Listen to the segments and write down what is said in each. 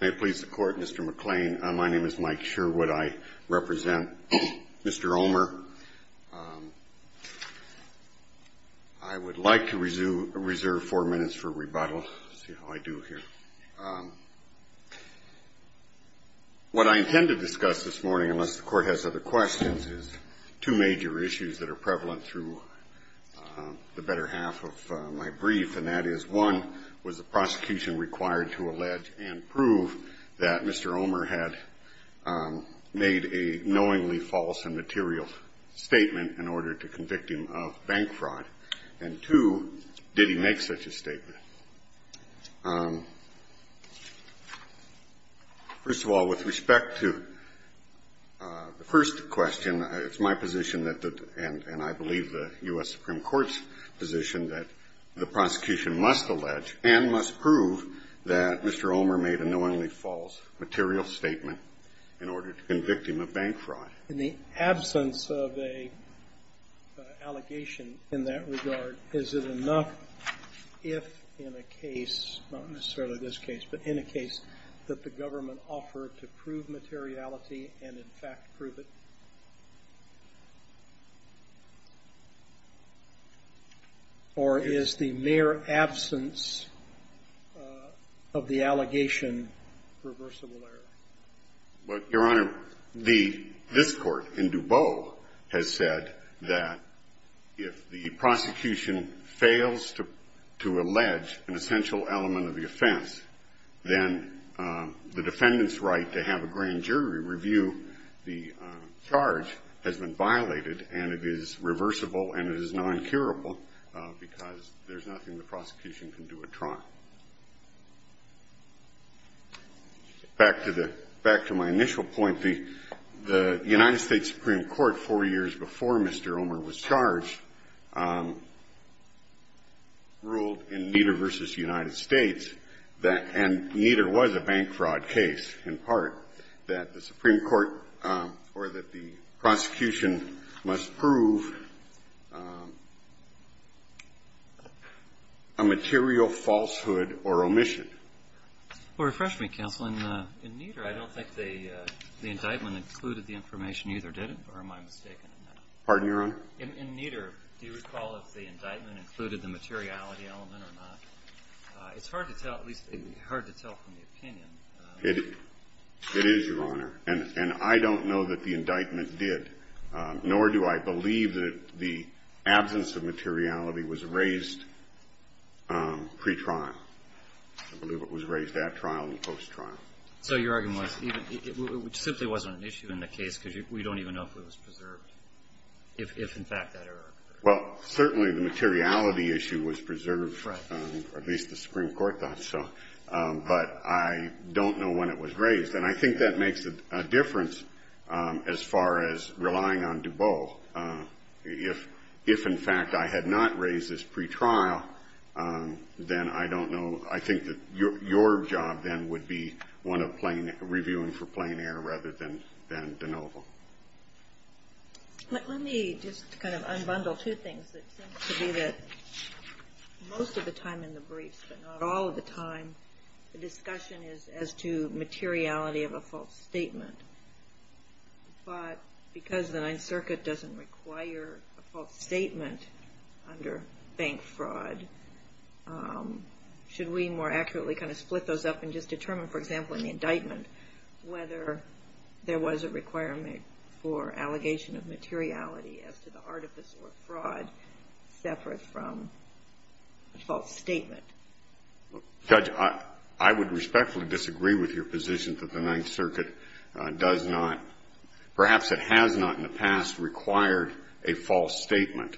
May it please the Court, Mr. McClain. My name is Mike Sherwood. I represent Mr. Omer. I would like to reserve four minutes for rebuttal. Let's see how I do here. What I intend to discuss this morning, unless the Court has other questions, is two major issues that are prevalent through the better half of my brief, and that is, one, was the prosecution required to allege and prove that Mr. Omer had made a knowingly false and material statement in order to convict him of bank fraud? And two, did he make such a statement? First of all, with respect to the first question, it's my position, and I believe the U.S. Supreme Court's position, that the prosecution must allege and must prove that Mr. Omer made a knowingly false material statement in order to convict him of bank fraud. In the absence of an allegation in that regard, is it enough if, in a case, not necessarily this case, but in a case, that the government offer to prove materiality and, in fact, prove it? Or is the mere absence of the allegation reversible error? Well, Your Honor, this Court in DuBois has said that if the prosecution fails to allege an essential element of the offense, then the defendant's right to have a grand jury review the charge has been violated, and it is reversible, and it is non-curable, because there's nothing the prosecution can do but try. Back to my initial point, the United States Supreme Court, four years before Mr. Omer was charged, ruled in Nieder v. United States that, and Nieder was a bank fraud case, in part, that the Supreme Court or that the prosecution must prove a material falsehood or omission. Well, refresh me, counsel. In Nieder, I don't think the indictment included the information either, did it? Or am I mistaken in that? Pardon, Your Honor? In Nieder, do you recall if the indictment included the materiality element or not? It's hard to tell, at least hard to tell from the opinion. It is, Your Honor. And I don't know that the indictment did, nor do I believe that the absence of materiality was raised pretrial. I believe it was raised at trial and post-trial. So your argument was it simply wasn't an issue in the case because we don't even know if it was preserved, if, in fact, that error occurred. Well, certainly the materiality issue was preserved. Right. At least the Supreme Court thought so. But I don't know when it was raised. And I think that makes a difference as far as relying on DuBose. If, in fact, I had not raised this pretrial, then I don't know. I think that your job then would be one of reviewing for plein air rather than de novo. Let me just kind of unbundle two things that seem to be that most of the time in the briefs, but not all of the time, the discussion is as to materiality of a false statement. But because the Ninth Circuit doesn't require a false statement under bank fraud, should we more accurately kind of split those up and just determine, for example, in the indictment whether there was a requirement for allegation of materiality as to the artifice or fraud separate from a false statement? Judge, I would respectfully disagree with your position that the Ninth Circuit does not, perhaps it has not in the past, required a false statement.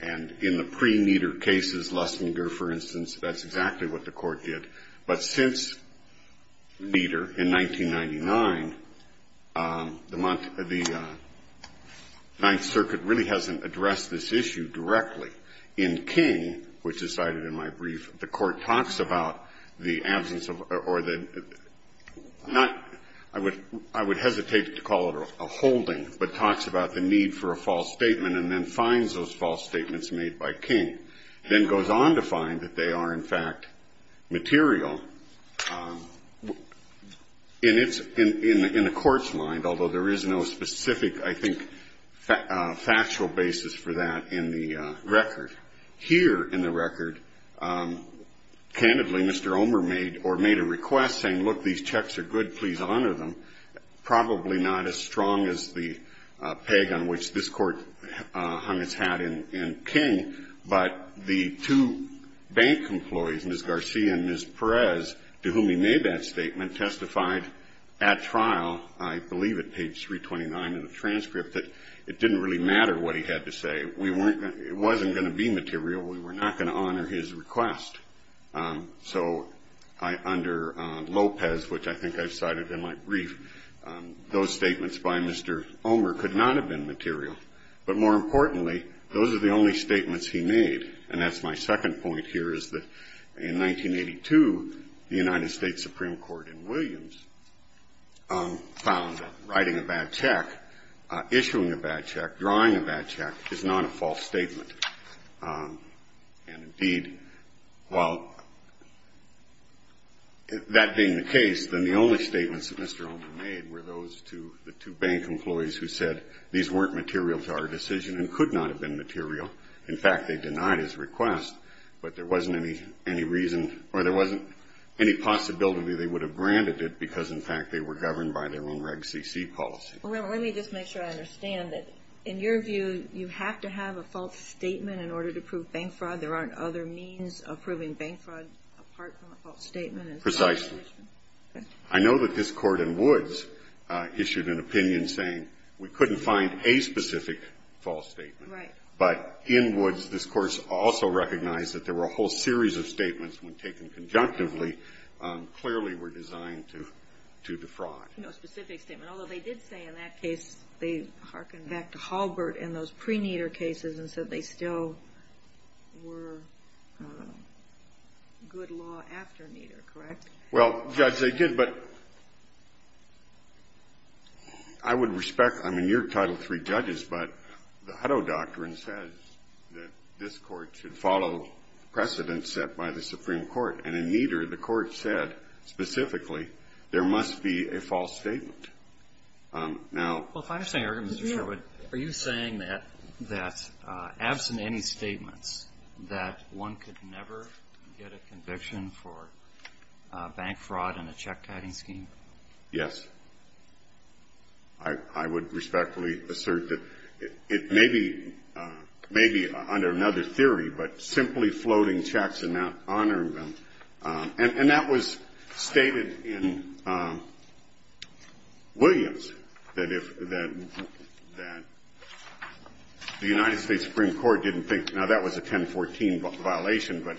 And in the pre-Meader cases, Lustinger, for instance, that's exactly what the Court did. But since Meader in 1999, the Ninth Circuit really hasn't addressed this issue directly. In King, which is cited in my brief, the Court talks about the absence of or the not ‑‑ I would hesitate to call it a holding, but talks about the need for a false statement and then finds those false statements made by King. Then goes on to find that they are, in fact, material in a court's mind, although there is no specific, I think, factual basis for that in the record. Here in the record, candidly, Mr. Omer made or made a request saying, look, these checks are good, please honor them. Probably not as strong as the peg on which this Court hung its hat in King, but the two bank employees, Ms. Garcia and Ms. Perez, to whom he made that statement, testified at trial, I believe at page 329 of the transcript, that it didn't really matter what he had to say. It wasn't going to be material. We were not going to honor his request. So under Lopez, which I think I've cited in my brief, those statements by Mr. Omer could not have been material. But more importantly, those are the only statements he made. And that's my second point here, is that in 1982, the United States Supreme Court in Williams found that writing a bad check, issuing a bad check, drawing a bad check, is not a false statement. And indeed, while that being the case, then the only statements that Mr. Omer made were those to the two bank employees who said these weren't material to our decision and could not have been material. In fact, they denied his request. But there wasn't any reason or there wasn't any possibility they would have branded it because, in fact, they were governed by their own Reg CC policy. Well, let me just make sure I understand that, in your view, you have to have a false statement in order to prove bank fraud. There aren't other means of proving bank fraud apart from a false statement. Precisely. I know that this Court in Woods issued an opinion saying we couldn't find a specific false statement. Right. But in Woods, this Court also recognized that there were a whole series of statements when taken conjunctively clearly were designed to defraud. No specific statement. Although they did say in that case they hearkened back to Halbert in those pre-Nieder cases and said they still were good law after Nieder, correct? Well, Judge, they did. But I would respect, I mean, you're Title III judges, but the Hutto Doctrine says that this Court should follow precedents set by the Supreme Court. And in Nieder, the Court said specifically there must be a false statement. Now — Well, if I understand your argument, Mr. Sherwood, are you saying that, absent any statements, that one could never get a conviction for bank fraud in a check-tiding scheme? Yes. I would respectfully assert that it may be under another theory, but simply floating checks and not honoring them. And that was stated in Williams, that if the United States Supreme Court didn't think — now, that was a 1014 violation, but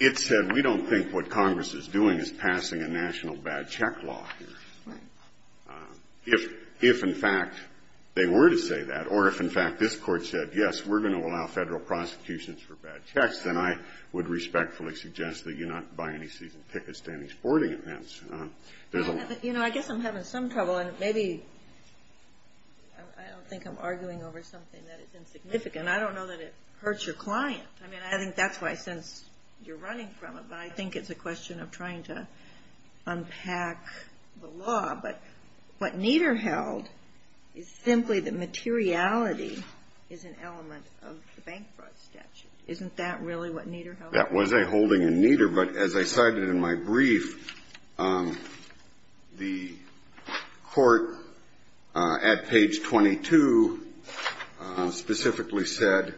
it said we don't think what Congress is doing is passing a national bad check law here. Right. If, in fact, they were to say that, or if, in fact, this Court said, yes, we're going to allow Federal prosecutions for bad checks, then I would respectfully suggest that you not buy any season tickets to any sporting events. You know, I guess I'm having some trouble, and maybe I don't think I'm arguing over something that is insignificant. I don't know that it hurts your client. I mean, I think that's why, since you're running from it, but I think it's a question of trying to unpack the law. But what Nieder held is simply that materiality is an element of the bank fraud statute. Isn't that really what Nieder held? That was a holding in Nieder, but as I cited in my brief, the Court at page 22 specifically said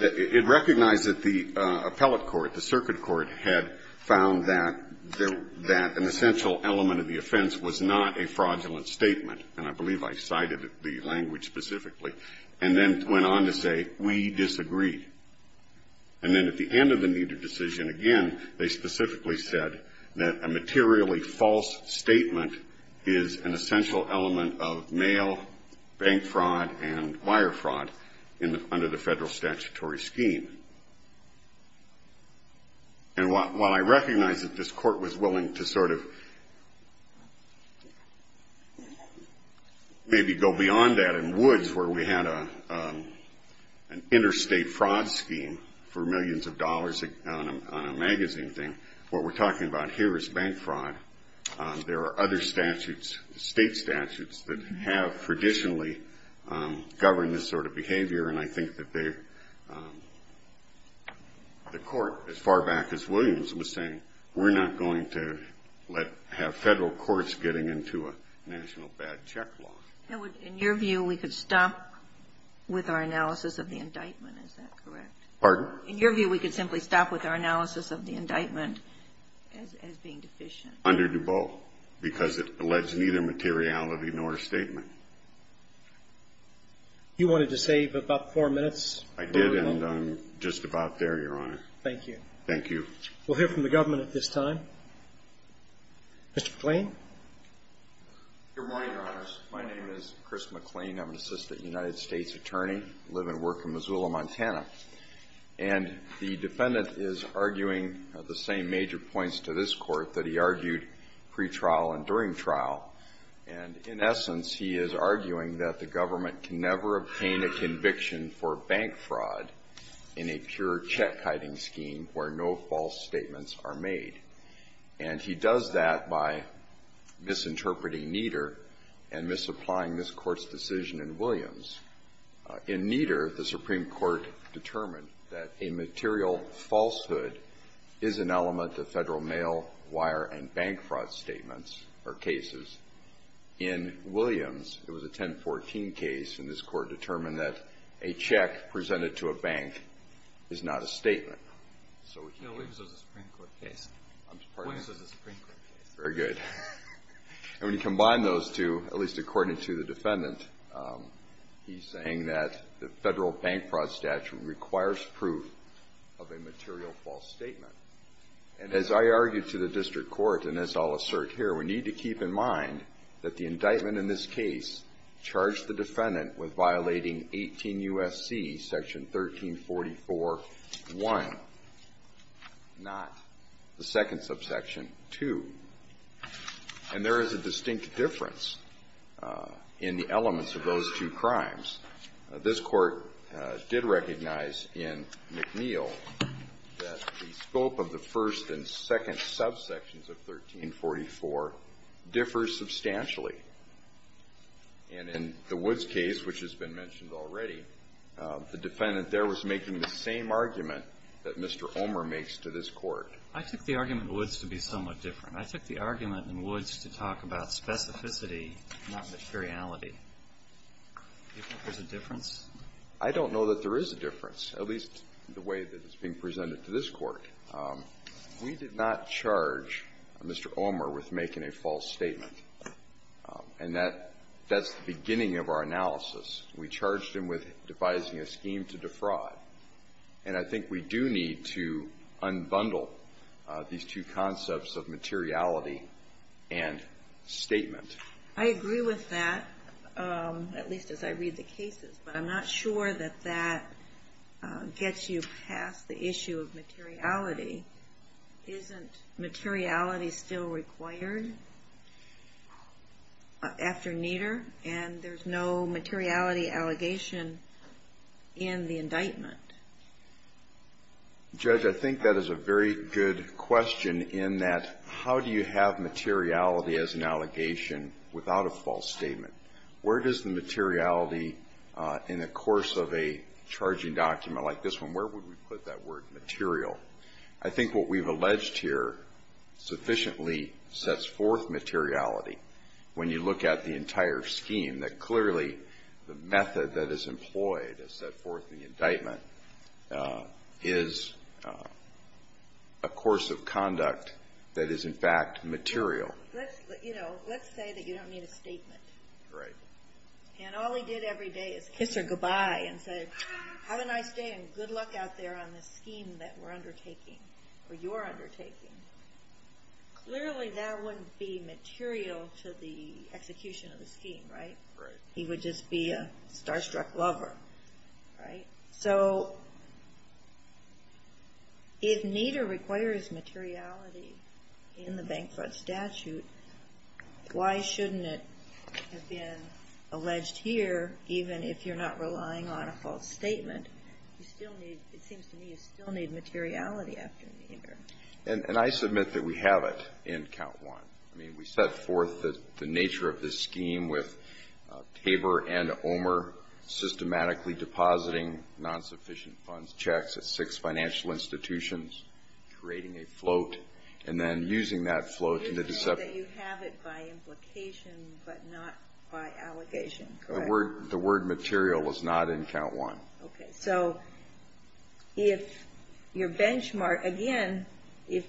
it recognized that the appellate court, the circuit court, had found that an essential element of the offense was not a fraudulent statement, and I believe I cited the language specifically, and then went on to say, we disagree. And then at the end of the Nieder decision, again, they specifically said that a materially false statement is an essential element of mail, bank fraud, and wire fraud under the federal statutory scheme. And while I recognize that this Court was willing to sort of maybe go beyond that in Woods, where we had an interstate fraud scheme for millions of dollars on a magazine thing, what we're talking about here is bank fraud. There are other statutes, state statutes, that have traditionally governed this sort of behavior, and I think that the Court, as far back as Williams was saying, we're not going to have federal courts getting into a national bad check law. In your view, we could stop with our analysis of the indictment. Is that correct? Pardon? In your view, we could simply stop with our analysis of the indictment as being deficient. Under DuBois, because it alleges neither materiality nor statement. You wanted to save about four minutes. I did, and I'm just about there, Your Honor. Thank you. Thank you. We'll hear from the government at this time. Mr. McLean. Good morning, Your Honors. My name is Chris McLean. I'm an assistant United States attorney. I live and work in Missoula, Montana. And the defendant is arguing the same major points to this Court that he argued pre-trial and during trial. And in essence, he is arguing that the government can never obtain a conviction for bank fraud in a pure check-hiding scheme where no false statements are made. And he does that by misinterpreting Nieder and misapplying this Court's decision in Williams. In Nieder, the Supreme Court determined that a material falsehood is an element of Federal mail, wire, and bank fraud statements or cases. In Williams, it was a 1014 case, and this Court determined that a check presented to a bank is not a statement. No, Williams was a Supreme Court case. I'm sorry? Williams was a Supreme Court case. Very good. And when you combine those two, at least according to the defendant, he's saying that the Federal bank fraud statute requires proof of a material false statement. And as I argue to the District Court, and as I'll assert here, we need to keep in mind that the indictment in this case charged the defendant with violating 18 U.S.C. Section 1344.1, not the second subsection, 2. And there is a distinct difference in the elements of those two crimes. This Court did recognize in McNeil that the scope of the first and second subsections of 1344 differs substantially. And in the Woods case, which has been mentioned already, the defendant there was making the same argument that Mr. Omer makes to this Court. I took the argument in Woods to be somewhat different. I took the argument in Woods to talk about specificity, not materiality. Do you think there's a difference? I don't know that there is a difference, at least the way that it's being presented to this Court. We did not charge Mr. Omer with making a false statement. And that's the beginning of our analysis. We charged him with devising a scheme to defraud. And I think we do need to unbundle these two concepts of materiality and statement. I agree with that, at least as I read the cases. But I'm not sure that that gets you past the issue of materiality. Isn't materiality still required after Nieder? And there's no materiality allegation in the indictment. Judge, I think that is a very good question in that, how do you have materiality as an allegation without a false statement? Where does the materiality in a course of a charging document like this one, where would we put that word, material? I think what we've alleged here sufficiently sets forth materiality when you look at the entire scheme, that clearly the method that is employed to set forth the indictment is a course of conduct that is, in fact, material. Let's say that you don't need a statement. Right. And all he did every day is kiss her goodbye and say, have a nice day and good luck out there on this scheme that we're undertaking, or you're undertaking. Clearly that wouldn't be material to the execution of the scheme, right? Right. He would just be a starstruck lover, right? So if Nader requires materiality in the Bankfront Statute, why shouldn't it have been alleged here, even if you're not relying on a false statement? You still need, it seems to me, you still need materiality after Nader. And I submit that we have it in Count 1. I mean, we set forth the nature of this scheme with Tabor and Omer systematically depositing non-sufficient funds, checks at six financial institutions, creating a float, and then using that float to deceptively. You said that you have it by implication but not by allegation, correct? The word material was not in Count 1. Okay. So if your benchmark, again, if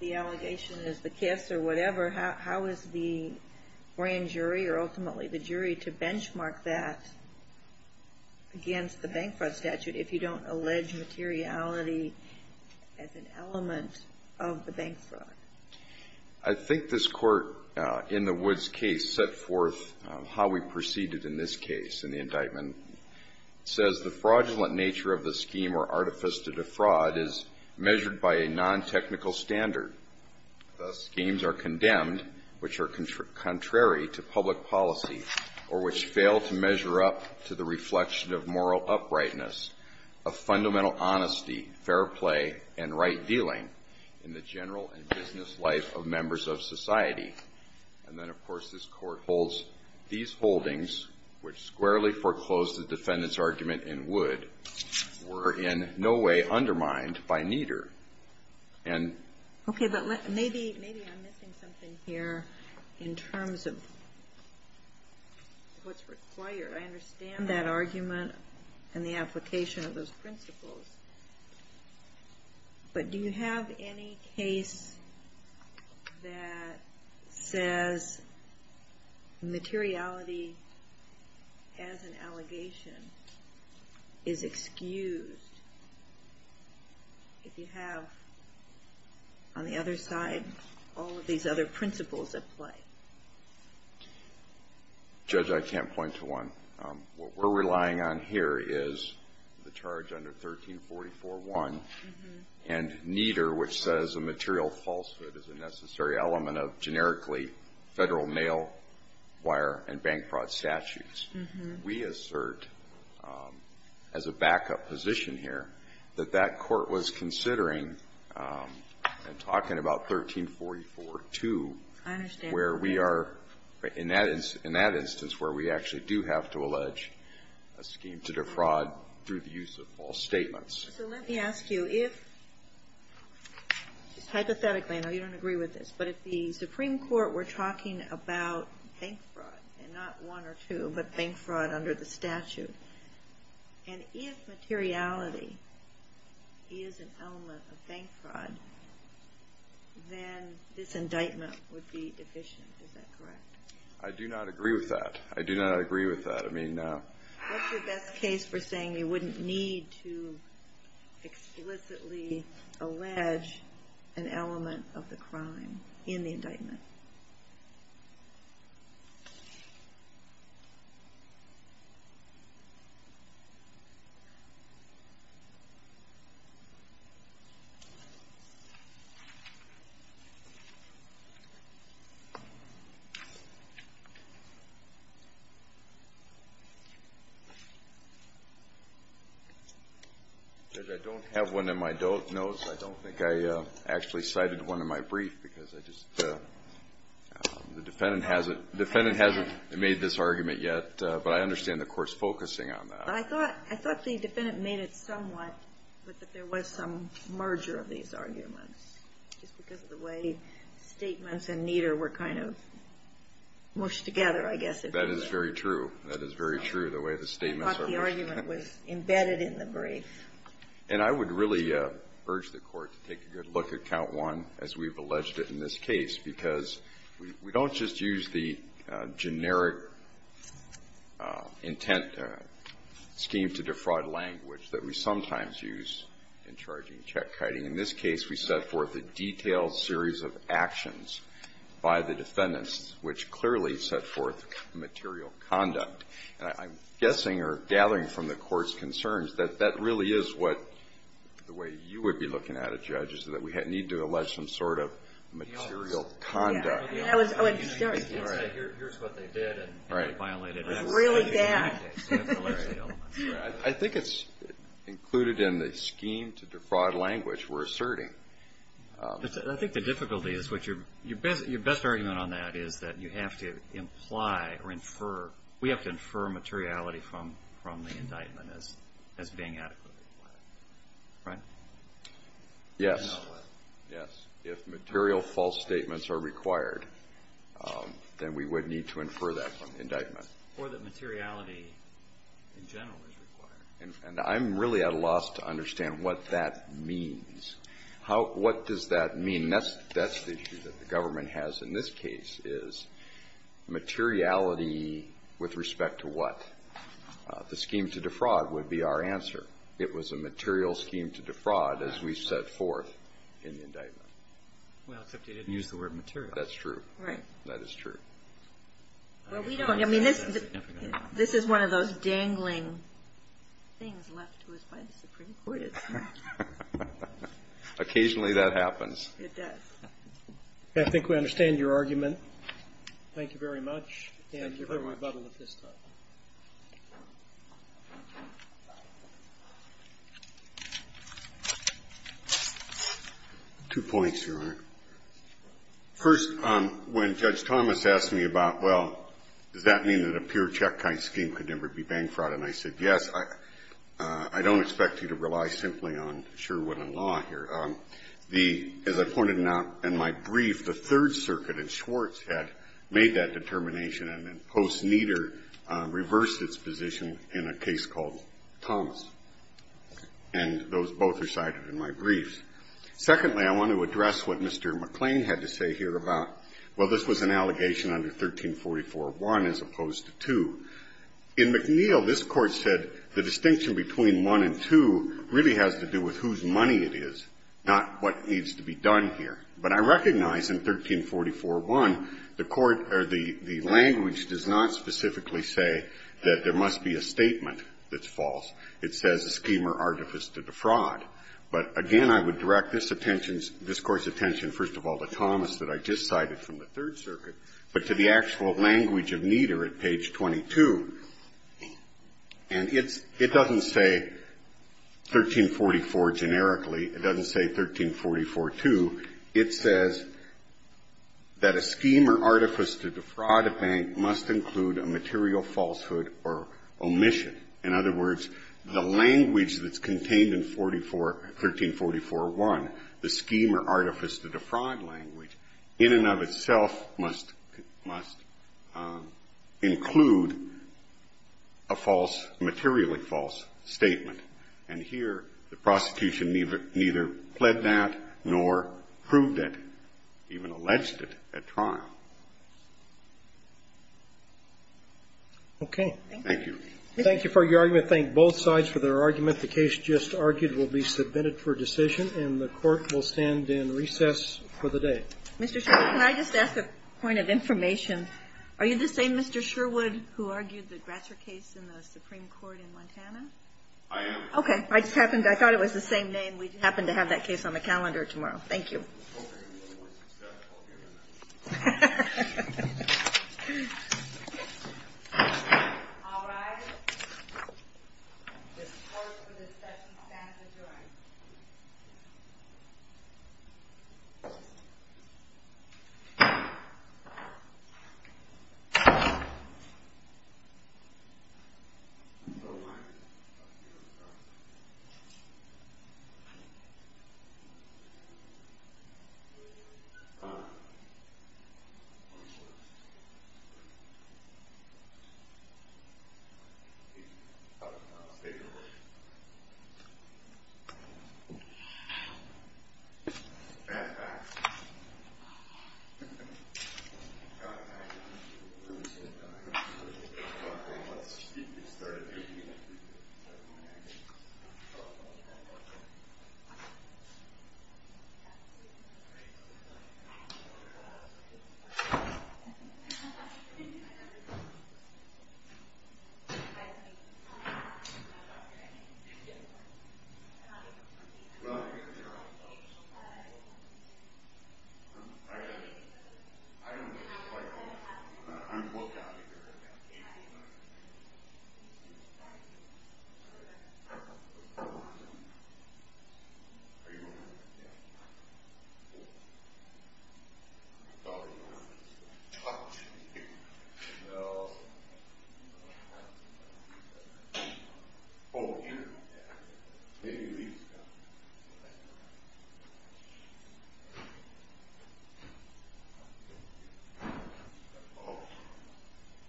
the allegation is the kiss or whatever, how is the grand jury or ultimately the jury to benchmark that against the Bankfront Statute if you don't allege materiality as an element of the Bankfront? I think this Court, in the Woods case, set forth how we proceeded in this case in the indictment. It says the fraudulent nature of the scheme or artifice to defraud is measured by a non-technical standard. Thus, schemes are condemned which are contrary to public policy or which fail to measure up to the reflection of moral uprightness of fundamental honesty, fair play, and right dealing in the general and business life of members of society. And then, of course, this Court holds these holdings, which squarely foreclosed the defendant's argument in Wood, were in no way undermined by neither. Okay. But maybe I'm missing something here in terms of what's required. I understand that argument and the application of those principles. But do you have any case that says materiality as an allegation is excused if you have, on the other side, all of these other principles at play? Judge, I can't point to one. What we're relying on here is the charge under 1344.1 and neither, which says a material falsehood is a necessary element of generically Federal mailwire and bank fraud statutes. We assert, as a backup position here, that that Court was considering and talking about 1344.2 where we are, in that instance, where we actually do have to apply to allege a scheme to defraud through the use of false statements. So let me ask you, if, just hypothetically, I know you don't agree with this, but if the Supreme Court were talking about bank fraud, and not one or two, but bank fraud under the statute, and if materiality is an element of bank fraud, then this indictment would be deficient. Is that correct? I do not agree with that. I do not agree with that. I mean, no. What's your best case for saying you wouldn't need to explicitly allege an element of the crime in the indictment? Judge, I don't have one in my notes. I don't think I actually cited one in my brief because I just the defendant hasn't made this argument yet, but I understand the Court's focusing on that. I thought the defendant made it somewhat, but that there was some merger of these arguments just because of the way statements and neither were kind of mushed together, I guess, if you will. That is very true. That is very true, the way the statements are mushed together. I thought the argument was embedded in the brief. And I would really urge the Court to take a good look at count one, as we've alleged it in this case, because we don't just use the generic intent scheme to defraud language that we sometimes use in charging check-kiting. In this case, we set forth a detailed series of actions by the defendants which clearly set forth material conduct. And I'm guessing or gathering from the Court's concerns that that really is what the way you would be looking at it, Judge, is that we need to allege some sort of material conduct. I think it's included in the scheme to defraud language we're asserting. I think the difficulty is, your best argument on that is that you have to imply or infer, we have to infer materiality from the indictment as being adequately required. Right? Yes. Yes. If material false statements are required, then we would need to infer that from the indictment. Or that materiality in general is required. And I'm really at a loss to understand what that means. What does that mean? That's the issue that the government has in this case, is materiality with respect to what? The scheme to defraud would be our answer. It was a material scheme to defraud, as we've set forth in the indictment. Well, except you didn't use the word material. That's true. Right. That is true. Well, we don't. I mean, this is one of those dangling things left to us by the Supreme Court. Occasionally that happens. It does. I think we understand your argument. Thank you very much. Thank you very much. And your rebuttal at this time. Two points, Your Honor. First, when Judge Thomas asked me about, well, does that mean that a pure check kind scheme could never be bank fraud? And I said, yes. I don't expect you to rely simply on Sherwood and Law here. As I pointed out in my brief, the Third Circuit in Schwartz had made that determination and then Post-Neder reversed its position in a case called Thomas. And those both are cited in my briefs. Secondly, I want to address what Mr. McClain had to say here about, well, this was an allegation under 1344.1 as opposed to 2. In McNeil, this Court said the distinction between 1 and 2 really has to do with whose money it is, not what needs to be done here. But I recognize in 1344.1 the language does not specifically say that there must be a statement that's false. It says a scheme or artifice to defraud. But again, I would direct this attention, this Court's attention, first of all, to Thomas that I just cited from the Third Circuit, but to the actual language of Neder at page 22. And it doesn't say 1344 generically. It doesn't say 1344.2. It says that a scheme or artifice to defraud a bank must include a material falsehood or omission. In other words, the language that's contained in 1344.1, the scheme or artifice to defraud language, in and of itself must include a false, materially false statement. And here the prosecution neither pled that nor proved it, even alleged it at trial. Okay. Thank you. Thank you for your argument. Thank both sides for their argument. The case just argued will be submitted for decision, and the Court will stand in recess for the day. Mr. Sherwood, can I just ask a point of information? Are you the same Mr. Sherwood who argued the Grasser case in the Supreme Court in Montana? I am. Okay. I just happened to – I thought it was the same name. We happen to have that case on the calendar tomorrow. Thank you.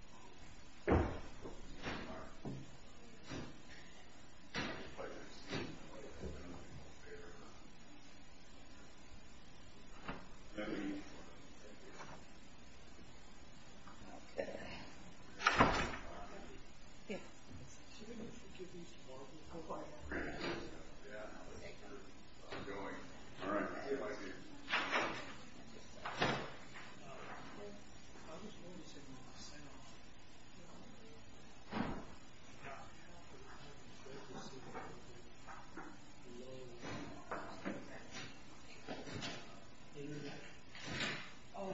Okay. I hope you have a little more success. I'll give you that. All right. This is closed for discussion. Thank you. Thank you. Thank you. Thank you. Thank you. Thank you.